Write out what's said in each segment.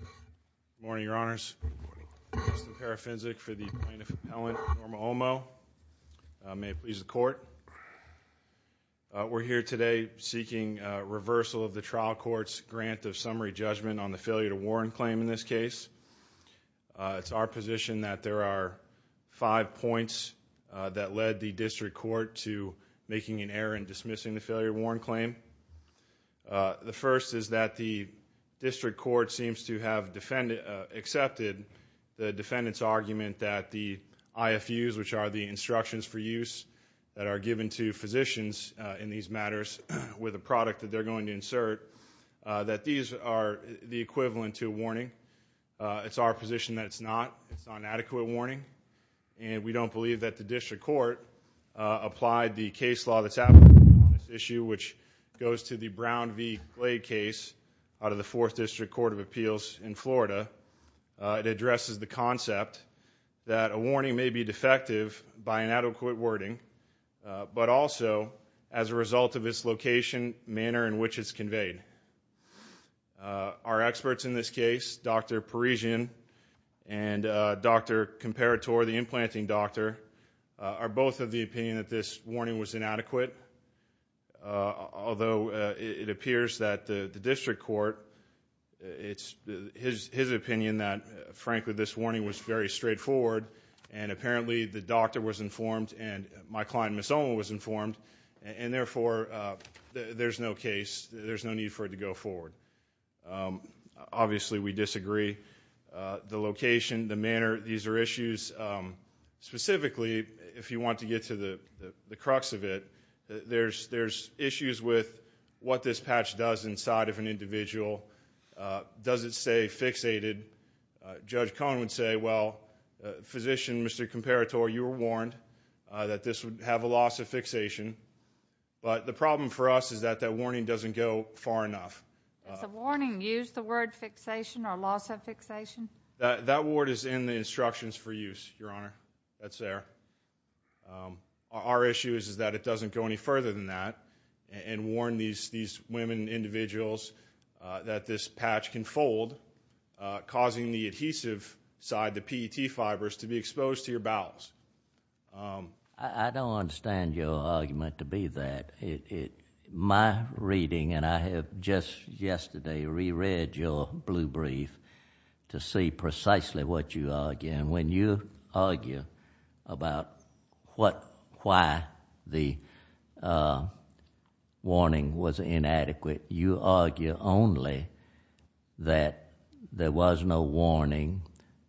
Good morning, Your Honors. Justin Parafinsic for the Plaintiff Appellant Norma Olmo. May it please the Court. We're here today seeking reversal of the trial court's grant of summary judgment on the failure to warn claim in this case. It's our position that there are five points that led the district court to making an error in dismissing the failure to warn claim. The first is that the district court seems to have accepted the defendant's argument that the IFUs, which are the instructions for use that are given to physicians in these matters with a product that they're going to insert, that these are the equivalent to a warning. It's our position that it's not, it's not an adequate warning, and we don't believe that the district court applied the case law that's out on this issue, which goes to the Brown v. Glade case out of the Fourth District Court of Appeals in Florida. It addresses the concept that a warning may be defective by inadequate wording, but also as a result of its location, manner in which it's conveyed. Our experts in this case, Dr. Parisian and Dr. Comparatore, the implanting doctor, are both of the opinion that this warning was inadequate, although it appears that the district court, it's his opinion that, frankly, this warning was very straightforward, and apparently the doctor was informed and my client, Ms. Olman, was informed, and therefore, there's no case, there's no need for it to go forward. Obviously, we disagree. The location, the manner, these are issues, specifically, if you want to get to the crux of it, there's issues with what this patch does inside of an individual. Does it stay fixated? Judge Cohen would say, well, physician, Mr. Comparatore, you were warned that this would have a loss of fixation, but the problem for us is that that warning doesn't go far enough. Does the warning use the word fixation or loss of fixation? That word is in the instructions for use, Your Honor, that's there. Our issue is that it doesn't go any further than that, and warn these women, individuals, that this patch can fold, causing the adhesive side, the PET fibers, to be exposed to your bowels. I don't understand your argument to be that. My reading, and I have just yesterday re-read your blue brief to see precisely what you argue. When you argue about why the warning was inadequate, you argue only that there was no warning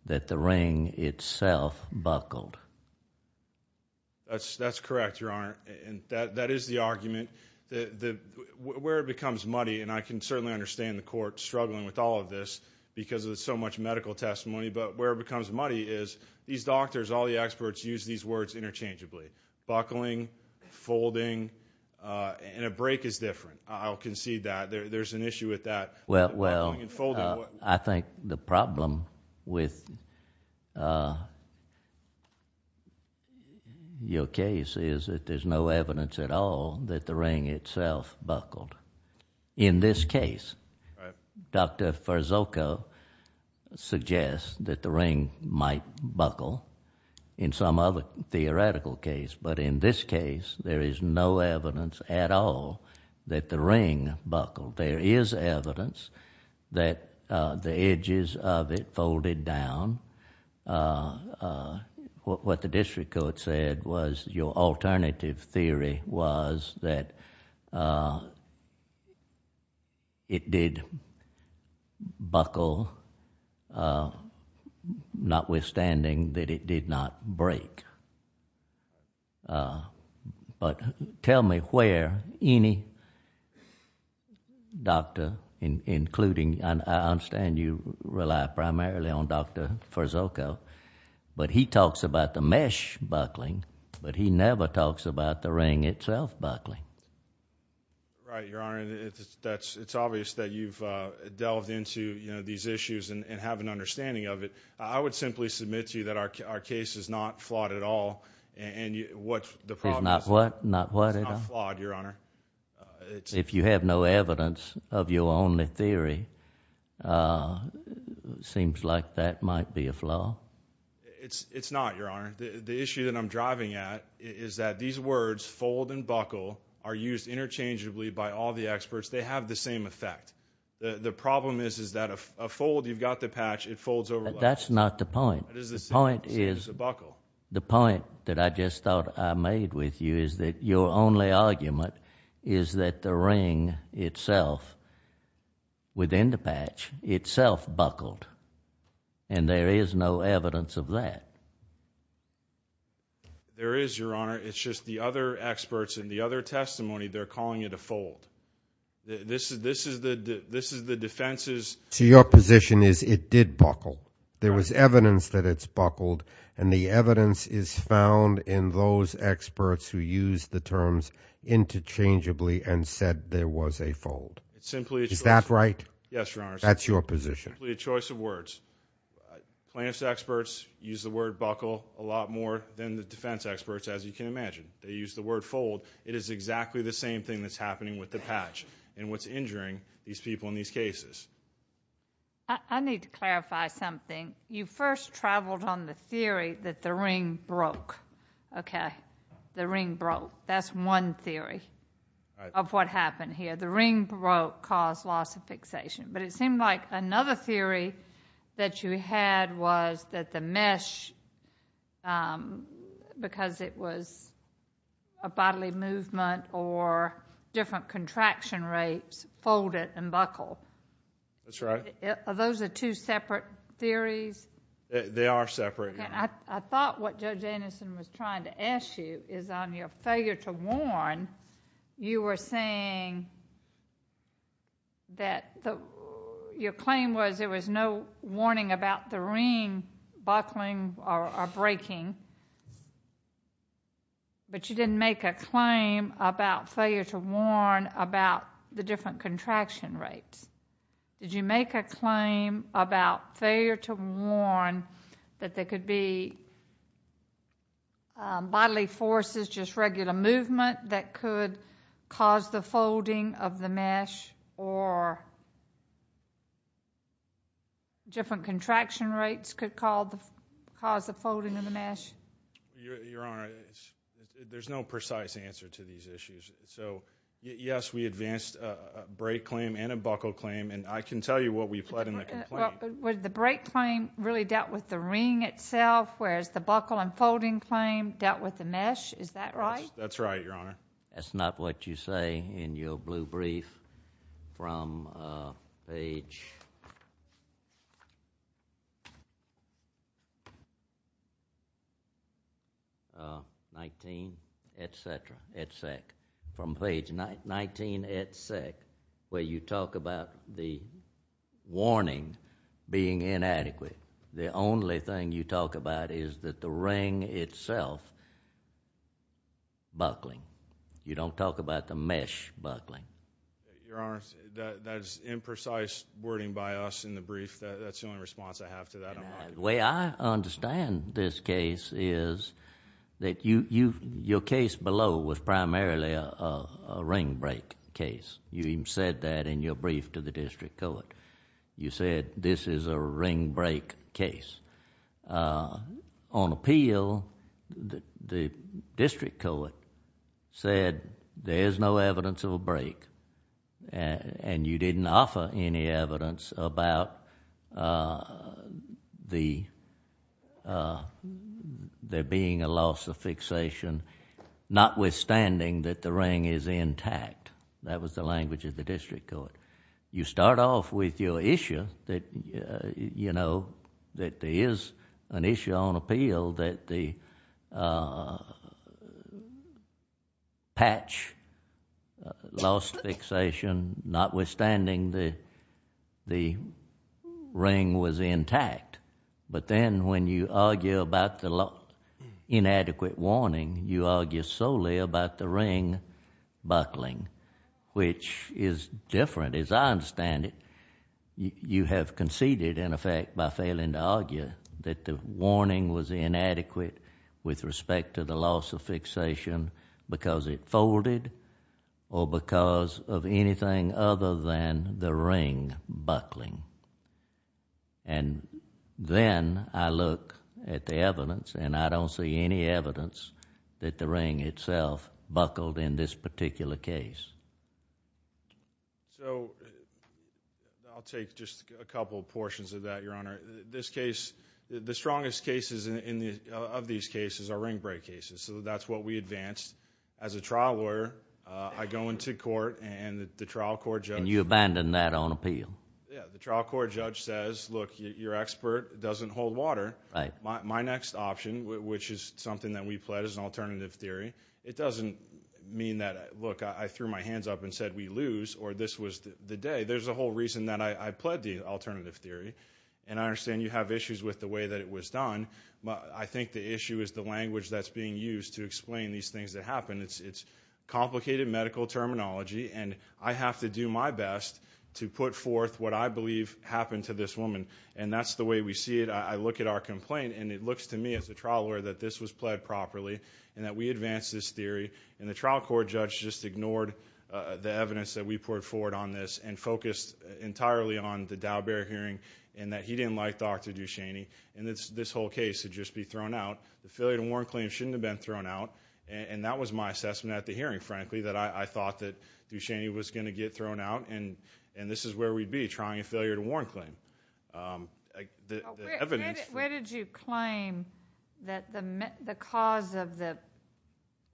that the ring itself buckled. That's correct, Your Honor. That is the argument. Where it becomes muddy, and I can certainly understand the court struggling with all of this because of so much medical testimony, but where it becomes muddy is these doctors, all the experts, use these words interchangeably, buckling, folding, and a break is different. I'll concede that. There's an issue with that, buckling and folding. I think the problem with your case is that there's no evidence at all that the ring itself buckled. In this case, Dr. Farzooka suggests that the ring might buckle in some other theoretical case, but in this case, there is no evidence at all that the ring buckled. There is evidence that the edges of it folded down. What the district court said was your alternative theory was that it did buckle, notwithstanding that it did not break. Tell me where any doctor, including... I understand you rely primarily on Dr. Farzooka, but he talks about the mesh buckling, but he never talks about the ring itself buckling. Right, Your Honor. It's obvious that you've delved into these issues and have an understanding of it. I would simply submit to you that our case is not flawed at all. What's the problem? It's not what? It's not flawed, Your Honor. If you have no evidence of your only theory, it seems like that might be a flaw. It's not, Your Honor. The issue that I'm driving at is that these words, fold and buckle, are used interchangeably by all the experts. They have the same effect. The problem is that a fold, you've got the patch, it folds over. That's not the point. The point is... It's a buckle. The point that I just thought I made with you is that your only argument is that the ring itself, within the patch, itself buckled, and there is no evidence of that. There is, Your Honor. It's just the other experts and the other testimony, they're calling it a fold. This is the defense's... So your position is it did buckle. There was evidence that it's buckled, and the evidence is found in those experts who used the terms interchangeably and said there was a fold. It's simply... Is that right? Yes, Your Honor. That's your position. It's simply a choice of words. Plaintiff's experts use the word buckle a lot more than the defense experts, as you can imagine. They use the word fold. It is exactly the same thing that's happening with the patch and what's injuring these people in these cases. I need to clarify something. You first traveled on the theory that the ring broke. The ring broke. That's one theory of what happened here. The ring broke, caused loss of fixation, but it seemed like another theory that you had was that the mesh, because it was a bodily movement or different contraction rates, folded and buckled. That's right. Are those the two separate theories? They are separate, Your Honor. I thought what Judge Anderson was trying to ask you is on your failure to warn, you were seeing buckling or breaking, but you didn't make a claim about failure to warn about the different contraction rates. Did you make a claim about failure to warn that there could be bodily forces, just regular movement that could cause the folding of the mesh, or different contraction rates could cause the folding of the mesh? Your Honor, there's no precise answer to these issues, so yes, we advanced a break claim and a buckle claim, and I can tell you what we pled in the complaint. The break claim really dealt with the ring itself, whereas the buckle and folding claim dealt with the mesh, is that right? That's right, Your Honor. That's not what you say in your blue brief from page 19, et cetera, et sec. From page 19, et sec., where you talk about the warning being inadequate, the only thing you talk about is that the ring itself buckling. You don't talk about the mesh buckling. Your Honor, that's imprecise wording by us in the brief. That's the only response I have to that. The way I understand this case is that your case below was primarily a ring break case. You even said that in your brief to the district court. You said this is a ring break case. On appeal, the district court said there's no evidence of a break, and you didn't offer any evidence about there being a loss of fixation, notwithstanding that the ring is intact. That was the language of the district court. You start off with your issue that there is an issue on appeal that the patch lost fixation, notwithstanding the ring was intact. But then when you argue about the inadequate warning, you argue solely about the ring buckling, which is different, as I understand it. You have conceded, in effect, by failing to argue that the warning was inadequate with respect to the loss of fixation because it folded or because of anything other than the ring buckling. Then I look at the evidence, and I don't see any evidence that the ring itself buckled in this particular case. I'll take just a couple portions of that, Your Honor. The strongest cases of these cases are ring break cases, so that's what we advanced. As a trial lawyer, I go into court, and the trial court judge... You abandon that on appeal? Yeah. The trial court judge says, look, your expert doesn't hold water. My next option, which is something that we pled, is an alternative theory. It doesn't mean that, look, I threw my hands up and said we lose or this was the day. There's a whole reason that I pled the alternative theory, and I understand you have issues with the way that it was done, but I think the issue is the language that's being used to explain these things that happen. It's complicated medical terminology, and I have to do my best to put forth what I believe happened to this woman, and that's the way we see it. I look at our complaint, and it looks to me as a trial lawyer that this was pled properly, and that we advanced this theory, and the trial court judge just ignored the evidence that we poured forward on this, and focused entirely on the Daubert hearing, and that he didn't like Dr. Ducheney, and this whole case should just be thrown out. The failure to warn claim shouldn't have been thrown out, and that was my assessment at the hearing, frankly, that I thought that Ducheney was going to get thrown out, and this is where we'd be, trying a failure to warn claim. The evidence... Where did you claim that the cause of the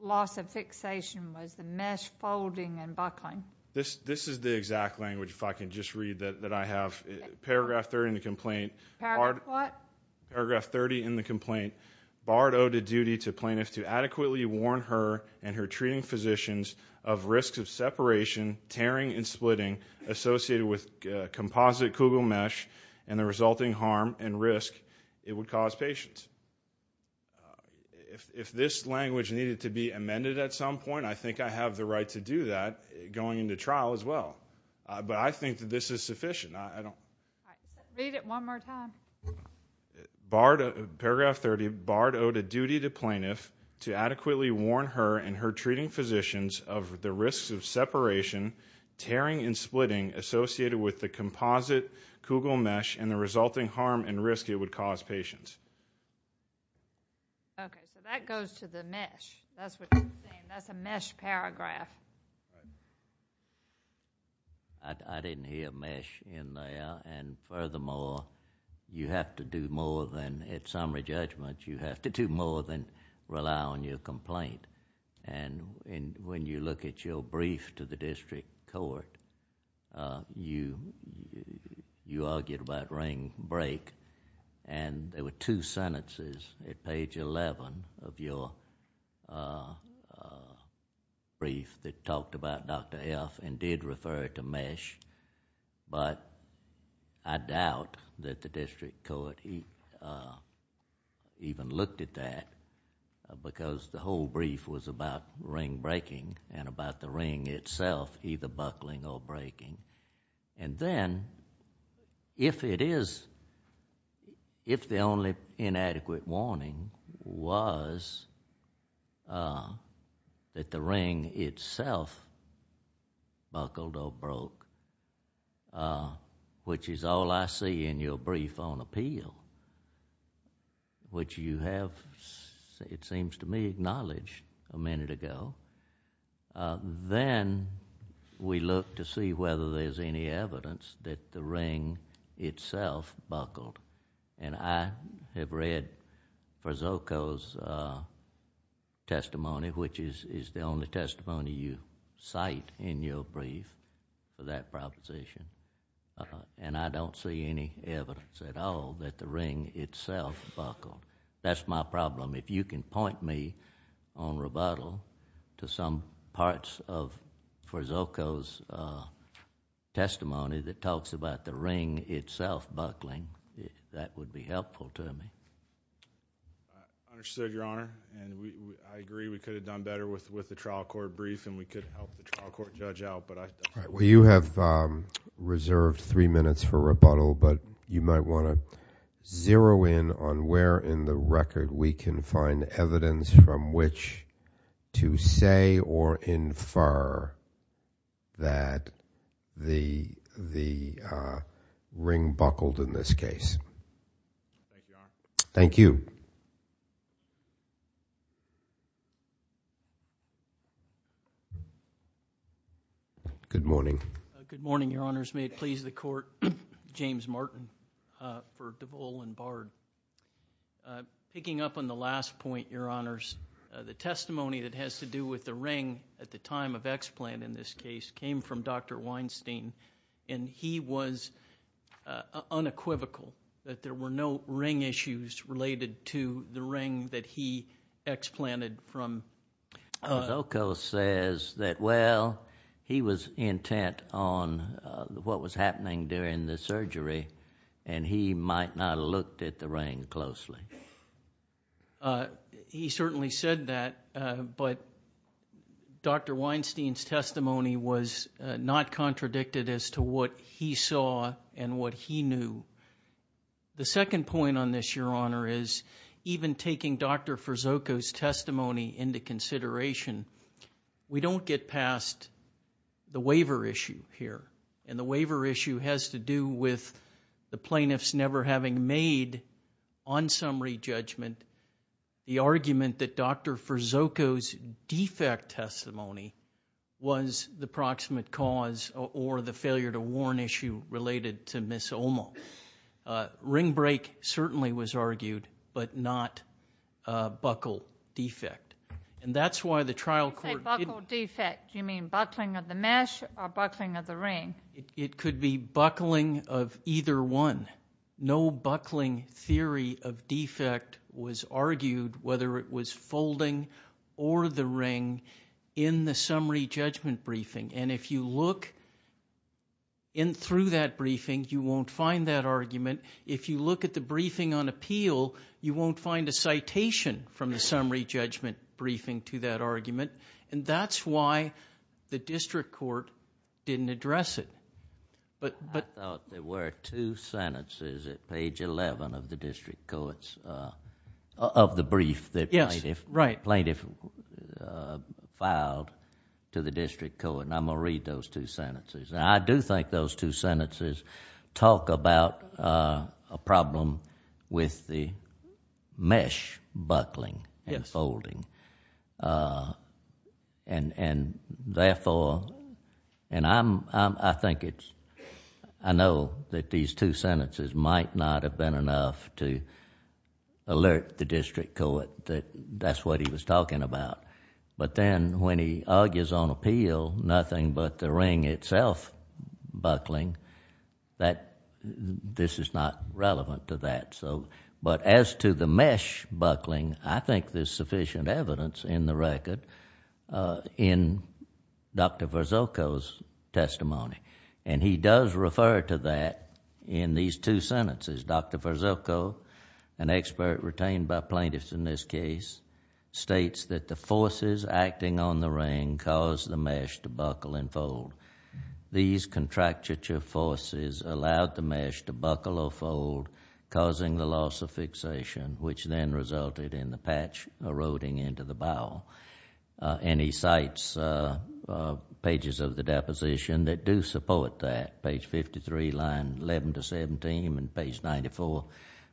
loss of fixation was the mesh folding and buckling? This is the exact language, if I can just read, that I have. Paragraph 30 in the complaint. Paragraph what? Paragraph 30 in the complaint, Bard owed a duty to plaintiffs to adequately warn her and her treating physicians of risks of separation, tearing, and splitting associated with composite Kugel mesh, and the resulting harm and risk it would cause patients. If this language needed to be amended at some point, I think I have the right to do that going into trial as well, but I think that this is sufficient. I don't... Read it one more time. Bard... Paragraph 30, Bard owed a duty to plaintiffs to adequately warn her and her treating physicians of the risks of separation, tearing, and splitting associated with the composite Kugel mesh, and the resulting harm and risk it would cause patients. Okay, so that goes to the mesh, that's what you're saying, that's a mesh paragraph. I didn't hear mesh in there, and furthermore, you have to do more than, at summary judgment, you have to do more than rely on your complaint. When you look at your brief to the district court, you argued about ring, break, and there were two sentences at page 11 of your brief that talked about Dr. F and did refer to mesh, but I doubt that the district court even looked at that because the whole brief was about ring breaking and about the ring itself either buckling or breaking. And then, if the only inadequate warning was that the ring itself buckled or broke, which is all I see in your brief on appeal, which you have, it seems to me, acknowledged a minute ago, then we look to see whether there's any evidence that the ring itself buckled. And I have read Frazoco's testimony, which is the only testimony you cite in your brief for that proposition, and I don't see any evidence at all that the ring itself buckled. That's my problem. If you can point me on rebuttal to some parts of Frazoco's testimony that talks about the ring itself buckling, that would be helpful to me. I understood, Your Honor, and I agree we could have done better with the trial court brief and we could help the trial court judge out, but I... All right. Well, you have reserved three minutes for rebuttal, but you might want to zero in on where in the record we can find evidence from which to say or infer that the ring buckled in this case. Thank you, Your Honor. Thank you. Good morning. Good morning, Your Honors. May it please the Court, James Martin for DeVol and Bard. Picking up on the last point, Your Honors, the testimony that has to do with the ring at the time of explant in this case came from Dr. Weinstein, and he was unequivocal that there were no ring issues related to the ring that he explanted from... during the surgery, and he might not have looked at the ring closely. He certainly said that, but Dr. Weinstein's testimony was not contradicted as to what he saw and what he knew. The second point on this, Your Honor, is even taking Dr. Furzoco's testimony into consideration, we don't get past the waiver issue here, and the waiver issue has to do with the plaintiffs never having made, on summary judgment, the argument that Dr. Furzoco's defect testimony was the proximate cause or the failure to warn issue related to Ms. Olmo. Ring break certainly was argued, but not buckle defect. And that's why the trial court... When you say buckle defect, you mean buckling of the mesh or buckling of the ring? It could be buckling of either one. No buckling theory of defect was argued, whether it was folding or the ring, in the summary judgment briefing. And if you look in through that briefing, you won't find that argument. If you look at the briefing on appeal, you won't find a citation from the summary judgment briefing to that argument. And that's why the district court didn't address it. I thought there were two sentences at page 11 of the district court's... of the brief that plaintiff filed to the district court, and I'm going to read those two sentences. And I do think those two sentences talk about a problem with the mesh buckling and folding. And therefore, and I think it's... I know that these two sentences might not have been enough to alert the district court that that's what he was talking about. But then when he argues on appeal, nothing but the ring itself buckling, that... this is not relevant to that. But as to the mesh buckling, I think there's sufficient evidence in the record in Dr. Verzocco's testimony. And he does refer to that in these two sentences. Dr. Verzocco, an expert retained by plaintiffs in this case, states that the forces acting on the ring caused the mesh to buckle and fold. These contracture forces allowed the mesh to buckle or fold, causing the loss of fixation, which then resulted in the patch eroding into the bowel. And he cites pages of the deposition that do support that. Page 53, line 11 to 17, and page 94,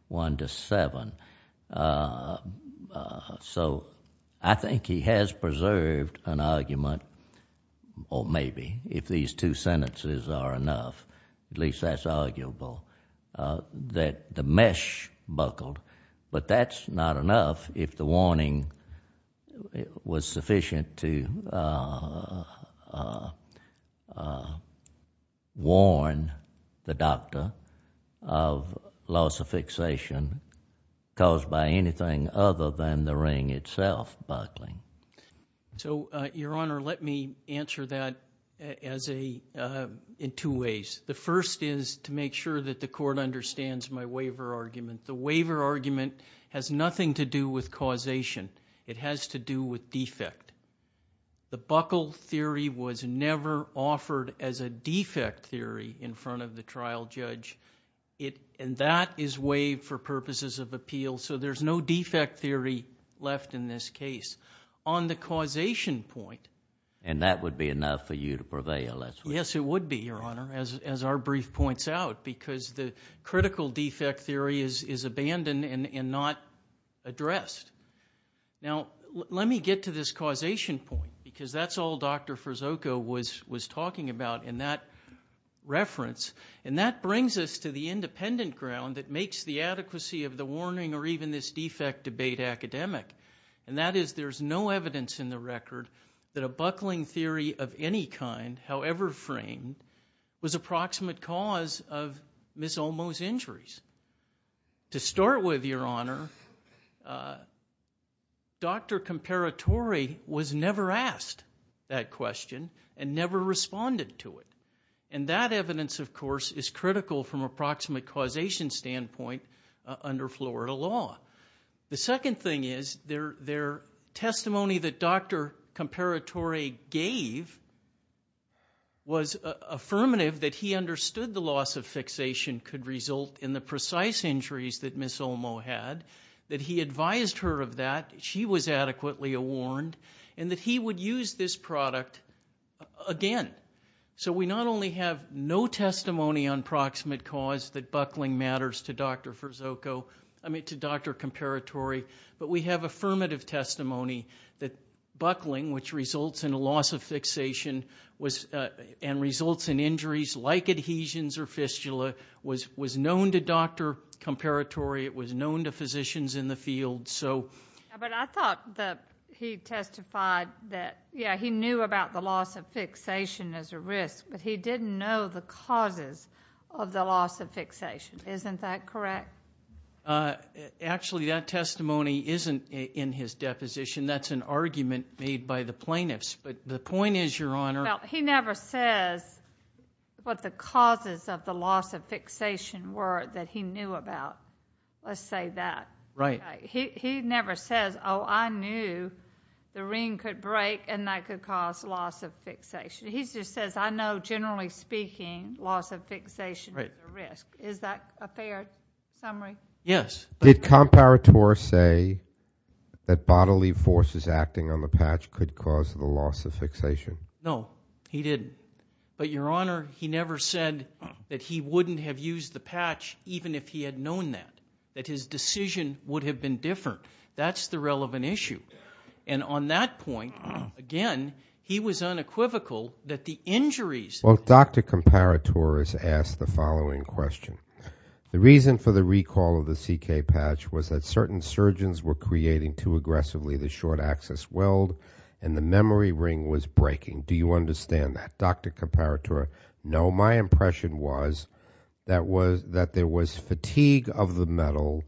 1 to 7. So I think he has preserved an argument, or maybe, if these two sentences are enough, at least that's arguable, that the mesh buckled. But that's not enough if the warning was sufficient to warn the doctor of loss of fixation caused by anything other than the ring itself buckling. So Your Honor, let me answer that in two ways. The first is to make sure that the Court understands my waiver argument. The waiver argument has nothing to do with causation. It has to do with defect. The buckle theory was never offered as a defect theory in front of the trial judge. And that is waived for purposes of appeal. So there's no defect theory left in this case. On the causation point... And that would be enough for you to prevail, that's what... Yes, it would be, Your Honor, as our brief points out. Because the critical defect theory is abandoned and not addressed. Now let me get to this causation point, because that's all Dr. Furzocco was talking about in that reference. And that brings us to the independent ground that makes the adequacy of the warning or even this defect debate academic. And that is there's no evidence in the record that a buckling theory of any kind, however framed, was approximate cause of Ms. Olmo's injuries. To start with, Your Honor, Dr. Comparatore was never asked that question and never responded to it. And that evidence, of course, is critical from approximate causation standpoint under Florida law. The second thing is their testimony that Dr. Comparatore gave was affirmative that he understood the loss of fixation could result in the precise injuries that Ms. Olmo had, that he advised her of that, she was adequately warned, and that he would use this product again. So we not only have no testimony on proximate cause that buckling matters to Dr. Furzocco or Comparatore, but we have affirmative testimony that buckling, which results in a loss of fixation and results in injuries like adhesions or fistula, was known to Dr. Comparatore. It was known to physicians in the field. So... But I thought that he testified that, yeah, he knew about the loss of fixation as a risk, but he didn't know the causes of the loss of fixation. Isn't that correct? Actually, that testimony isn't in his deposition. That's an argument made by the plaintiffs. But the point is, Your Honor... Well, he never says what the causes of the loss of fixation were that he knew about. Let's say that. Right. He never says, oh, I knew the ring could break and that could cause loss of fixation. He just says, I know, generally speaking, loss of fixation is a risk. Is that a fair summary? Yes. Did Comparatore say that bodily forces acting on the patch could cause the loss of fixation? No, he didn't. But Your Honor, he never said that he wouldn't have used the patch even if he had known that, that his decision would have been different. That's the relevant issue. And on that point, again, he was unequivocal that the injuries... Well, Dr. Comparatore has asked the following question. The reason for the recall of the CK patch was that certain surgeons were creating too aggressively the short axis weld and the memory ring was breaking. Do you understand that, Dr. Comparatore? No. My impression was that there was fatigue of the metal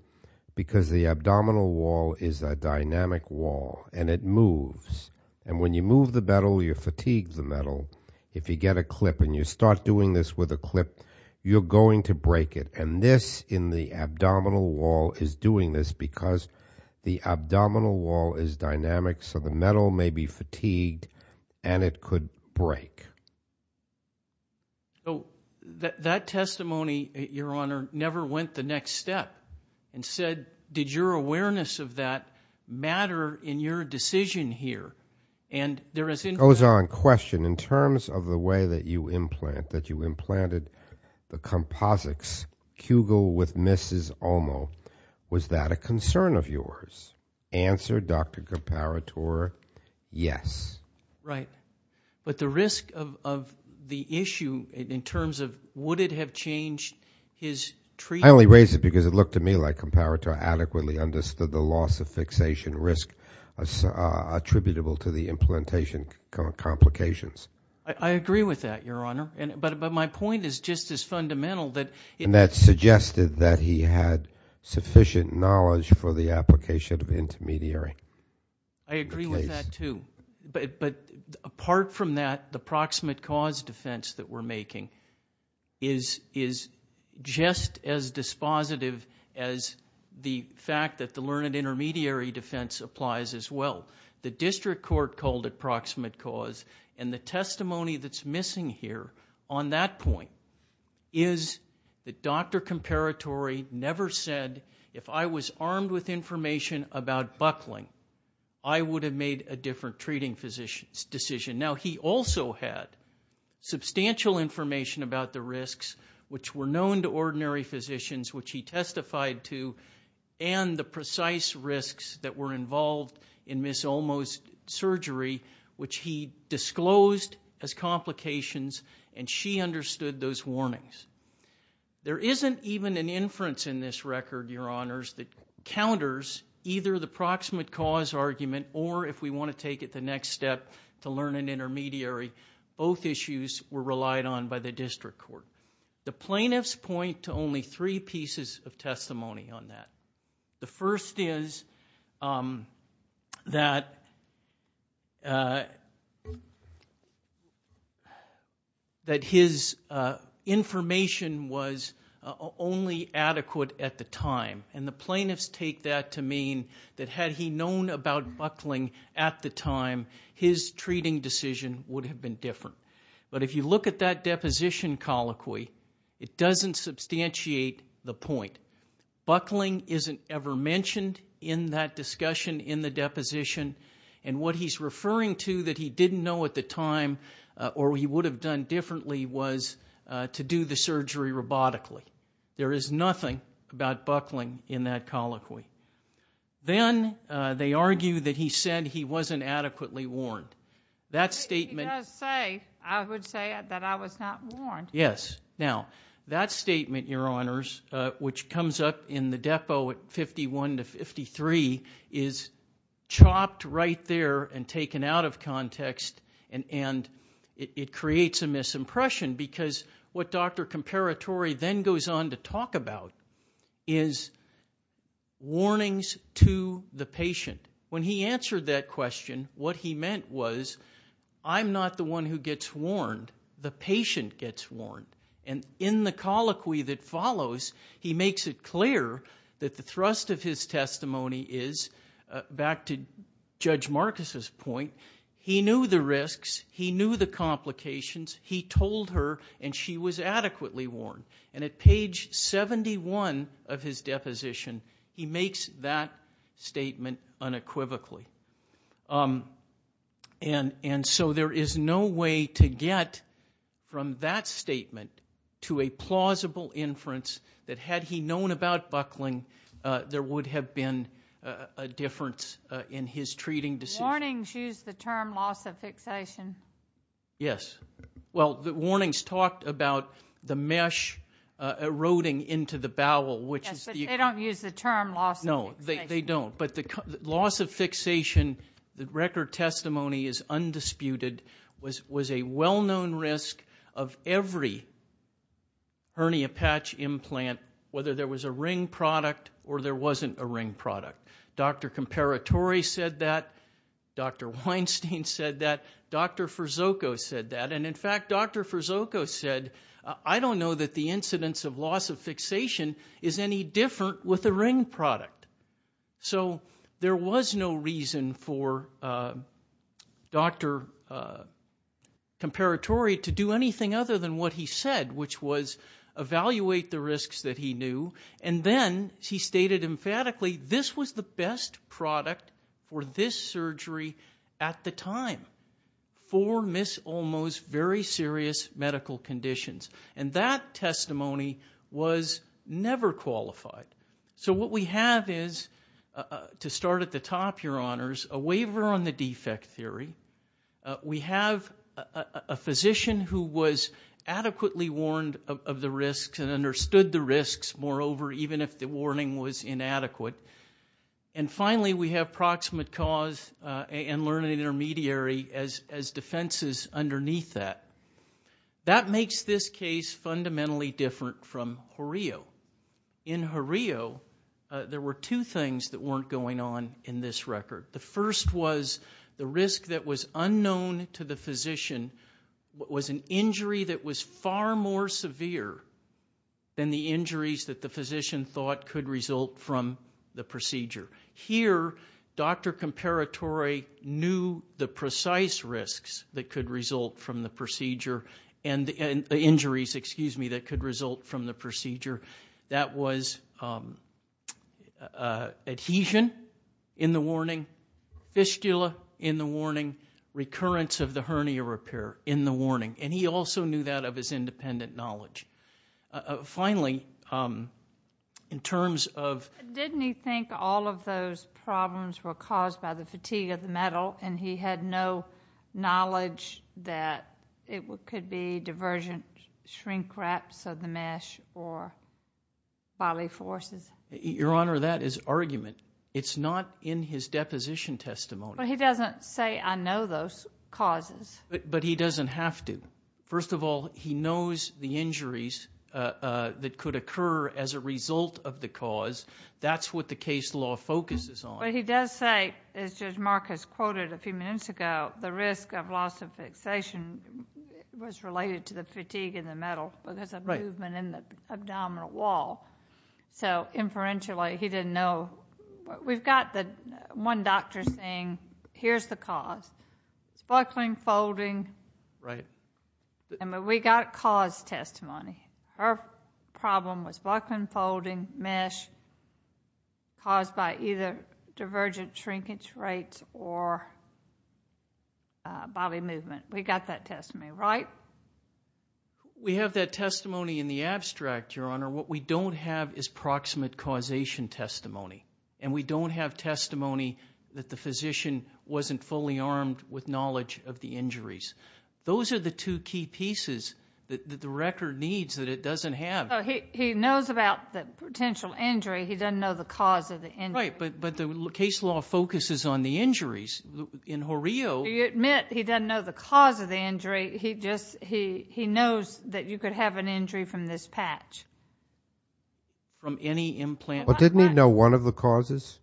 because the abdominal wall is a dynamic wall and it moves. And when you move the metal, you fatigue the metal. If you get a clip and you start doing this with a clip, you're going to break it. And this in the abdominal wall is doing this because the abdominal wall is dynamic so the metal may be fatigued and it could break. So, that testimony, Your Honor, never went the next step and said, did your awareness of that matter in your decision here? And there is... Goes on. Question. In terms of the way that you implant, that you implanted the composites, Kugel with Mrs. Omo, was that a concern of yours? Answer, Dr. Comparatore, yes. Right. But the risk of the issue in terms of would it have changed his treatment? I only raise it because it looked to me like Comparatore adequately understood the loss of fixation risk attributable to the implementation complications. I agree with that, Your Honor. But my point is just as fundamental that... And that suggested that he had sufficient knowledge for the application of intermediary. I agree with that, too. But apart from that, the proximate cause defense that we're making is just as dispositive as the fact that the learned intermediary defense applies as well. The district court called it proximate cause and the testimony that's missing here on that point is that Dr. Comparatore never said, if I was armed with information about buckling, I would have made a different treating physician's decision. Now he also had substantial information about the risks which were known to ordinary physicians which he testified to and the precise risks that were involved in Ms. Omo's surgery which he disclosed as complications and she understood those warnings. There isn't even an inference in this record, Your Honors, that counters either the proximate cause argument or if we want to take it the next step to learn an intermediary, both issues were relied on by the district court. The plaintiffs point to only three pieces of testimony on that. The first is that his information was only adequate at the time and the plaintiffs take that to mean that had he known about buckling at the time, his treating decision would have been different. But if you look at that deposition colloquy, it doesn't substantiate the point. Buckling isn't ever mentioned in that discussion in the deposition and what he's referring to that he didn't know at the time or he would have done differently was to do the surgery robotically. There is nothing about buckling in that colloquy. Then they argue that he said he wasn't adequately warned. That statement, Your Honors, which comes up in the depo at 51 to 53 is chopped right there and taken out of context and it creates a misimpression because what Dr. Comparatore then goes on to talk about is warnings to the patient. When he answered that question, what he meant was I'm not the one who gets warned. The patient gets warned. In the colloquy that follows, he makes it clear that the thrust of his testimony is back to Judge Marcus' point, he knew the risks, he knew the complications, he told her and she was adequately warned. At page 71 of his deposition, he makes that statement unequivocally. There is no way to get from that statement to a plausible inference that had he known about buckling, there would have been a difference in his treating decision. Warnings use the term loss of fixation. Yes. Well, the warnings talked about the mesh eroding into the bowel, which is the- Yes, but they don't use the term loss of fixation. No, they don't. But the loss of fixation, the record testimony is undisputed, was a well-known risk of every hernia patch implant, whether there was a ring product or there wasn't a ring product. Dr. Comparatore said that, Dr. Weinstein said that, Dr. Fersoco said that, and in fact, Dr. Fersoco said, I don't know that the incidence of loss of fixation is any different with a ring product. So there was no reason for Dr. Comparatore to do anything other than what he said, which was evaluate the risks that he knew, and then he stated emphatically, this was the best product for this surgery at the time for Ms. Olmo's very serious medical conditions. And that testimony was never qualified. So what we have is, to start at the top, your honors, a waiver on the defect theory. We have a physician who was adequately warned of the risks and understood the risks, moreover, even if the warning was inadequate. And finally, we have proximate cause and learning intermediary as defenses underneath that. That makes this case fundamentally different from Horio. In Horio, there were two things that weren't going on in this record. The first was, the risk that was unknown to the physician was an injury that was far more severe than the injuries that the physician thought could result from the procedure. Here, Dr. Comparatore knew the precise risks that could result from the procedure, and the injuries, excuse me, that could result from the procedure. That was adhesion in the warning, fistula in the warning, recurrence of the hernia repair in the warning. And he also knew that of his independent knowledge. Finally, in terms of... Didn't he think all of those problems were caused by the fatigue of the metal, and he bodily forces? Your Honor, that is argument. It's not in his deposition testimony. But he doesn't say, I know those causes. But he doesn't have to. First of all, he knows the injuries that could occur as a result of the cause. That's what the case law focuses on. But he does say, as Judge Marcus quoted a few minutes ago, the risk of loss of fixation was related to the fatigue in the metal, because of movement in the abdominal wall. So inferentially, he didn't know. We've got the one doctor saying, here's the cause, it's buckling, folding. We got cause testimony. Her problem was buckling, folding, mesh, caused by either divergent shrinkage rates or body movement. We got that testimony, right? We have that testimony in the abstract, Your Honor. What we don't have is proximate causation testimony. And we don't have testimony that the physician wasn't fully armed with knowledge of the injuries. Those are the two key pieces that the record needs that it doesn't have. He knows about the potential injury. He doesn't know the cause of the injury. But the case law focuses on the injuries. Do you admit he doesn't know the cause of the injury? He knows that you could have an injury from this patch? From any implant? Well, didn't he know one of the causes?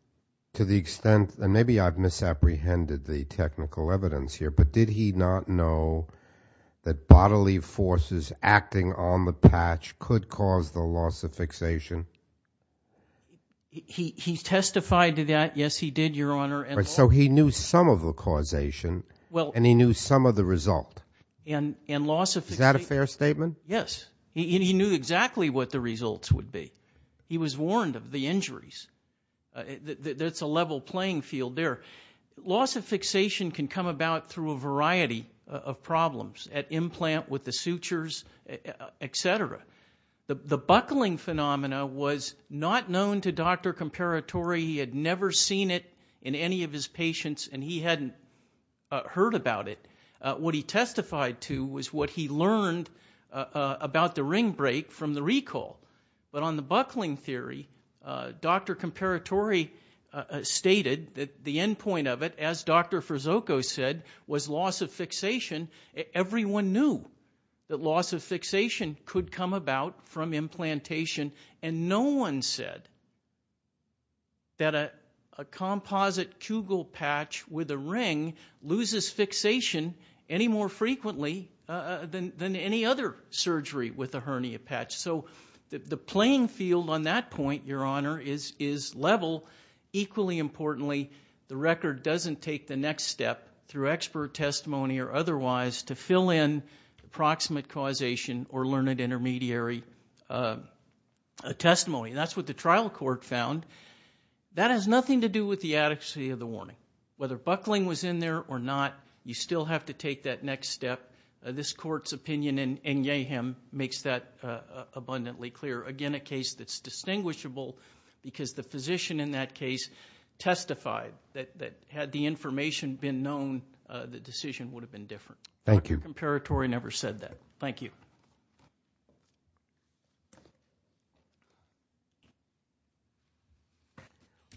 To the extent, and maybe I've misapprehended the technical evidence here, but did he not know that bodily forces acting on the patch could cause the loss of fixation? He testified to that, yes, he did, Your Honor. So he knew some of the causation and he knew some of the result. And loss of fixation. Is that a fair statement? Yes. He knew exactly what the results would be. He was warned of the injuries. That's a level playing field there. Loss of fixation can come about through a variety of problems at implant, with the sutures, et cetera. The buckling phenomena was not known to Dr. Comparatore. He had never seen it in any of his patients and he hadn't heard about it. What he testified to was what he learned about the ring break from the recall. But on the buckling theory, Dr. Comparatore stated that the end point of it, as Dr. Frizzoco said, was loss of fixation. Everyone knew that loss of fixation could come about from implantation and no one said that a composite Kugel patch with a ring loses fixation any more frequently than any other surgery with a hernia patch. So the playing field on that point, Your Honor, is level. Equally importantly, the record doesn't take the next step through expert testimony or otherwise to fill in the proximate causation or learned intermediary testimony. That's what the trial court found. That has nothing to do with the adequacy of the warning. Whether buckling was in there or not, you still have to take that next step. This court's opinion in Yeham makes that abundantly clear. Again, a case that's distinguishable because the physician in that case testified that had the information been known, the decision would have been different. Thank you. Dr. Comparatore never said that. Thank you.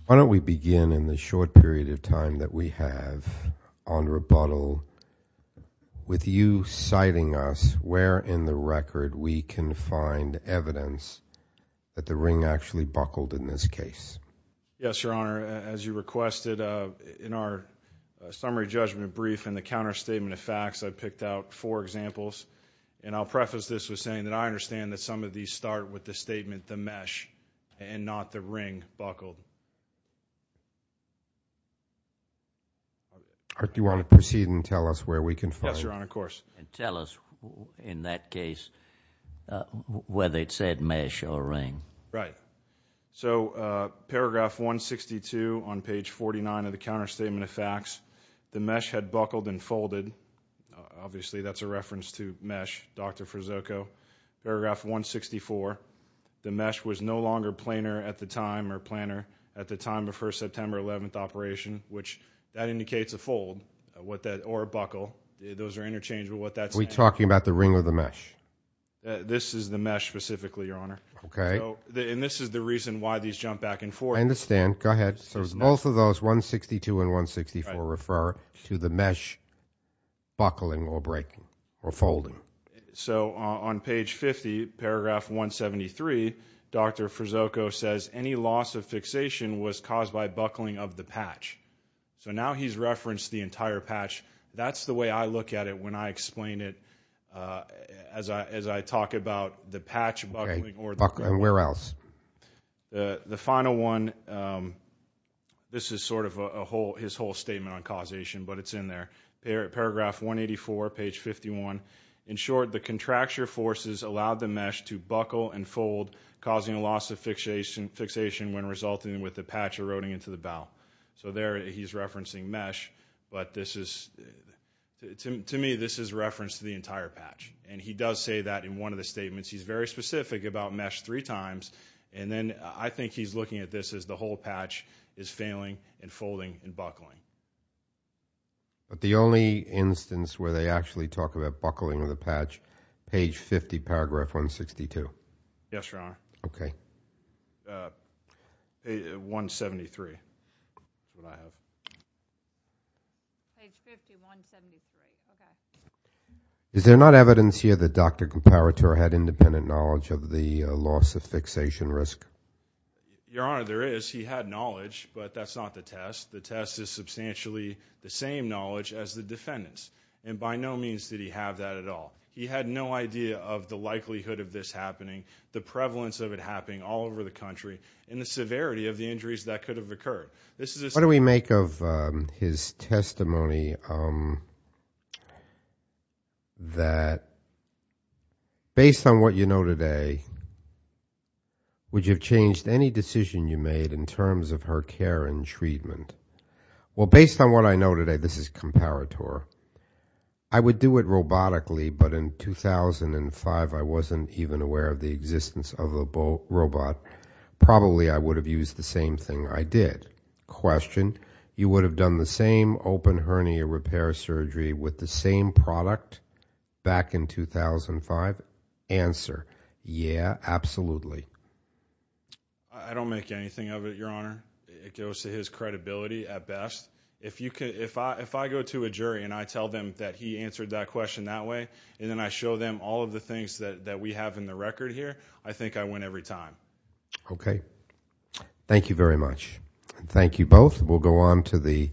Why don't we begin in the short period of time that we have on rebuttal with you citing us where in the record we can find evidence that the ring actually buckled in this case? Yes, Your Honor. As you requested in our summary judgment brief and the counterstatement of facts, I picked out four examples. I'll preface this with saying that I understand that some of these start with the statement the mesh and not the ring buckled. Do you want to proceed and tell us where we can find it? Yes, Your Honor. Of course. Tell us in that case whether it said mesh or ring. Right. Paragraph 162 on page 49 of the counterstatement of facts. The mesh had buckled and folded. Obviously, that's a reference to mesh, Dr. Frazzoco. Paragraph 164, the mesh was no longer planar at the time or planar at the time of her September 11th operation, which that indicates a fold or a buckle. Those are interchanged. Are we talking about the ring or the mesh? This is the mesh specifically, Your Honor. This is the reason why these jump back and forth. I understand. Go ahead. So both of those, 162 and 164, refer to the mesh buckling or breaking or folding. So on page 50, paragraph 173, Dr. Frazzoco says any loss of fixation was caused by buckling of the patch. So now he's referenced the entire patch. That's the way I look at it when I explain it as I talk about the patch buckling or the fold. Okay. Buckling. Where else? The final one, this is sort of his whole statement on causation, but it's in there. Paragraph 184, page 51, in short, the contracture forces allowed the mesh to buckle and fold, causing a loss of fixation when resulting with the patch eroding into the bow. So there he's referencing mesh, but this is, to me, this is reference to the entire patch. And he does say that in one of the statements. He's very specific about mesh three times. And then I think he's looking at this as the whole patch is failing and folding and buckling. But the only instance where they actually talk about buckling of the patch, page 50, paragraph 162. Yes, Your Honor. Okay. 173. Page 50, 173. Okay. Is there not evidence here that Dr. Comparatore had independent knowledge of the loss of fixation risk? Your Honor, there is. He had knowledge, but that's not the test. The test is substantially the same knowledge as the defendant's. And by no means did he have that at all. He had no idea of the likelihood of this happening, the prevalence of it happening all over the country, and the severity of the injuries that could have occurred. What do we make of his testimony that, based on what you know today, would you have changed any decision you made in terms of her care and treatment? Well, based on what I know today, this is Comparatore. I would do it robotically, but in 2005, I wasn't even aware of the existence of a robot. Probably, I would have used the same thing I did. Question. You would have done the same open hernia repair surgery with the same product back in 2005? Answer. Yeah, absolutely. I don't make anything of it, Your Honor. It goes to his credibility at best. If I go to a jury and I tell them that he answered that question that way, and then I show them all of the things that we have in the record here, I think I win every time. Okay. Thank you very much. Thank you both. We'll go on to the...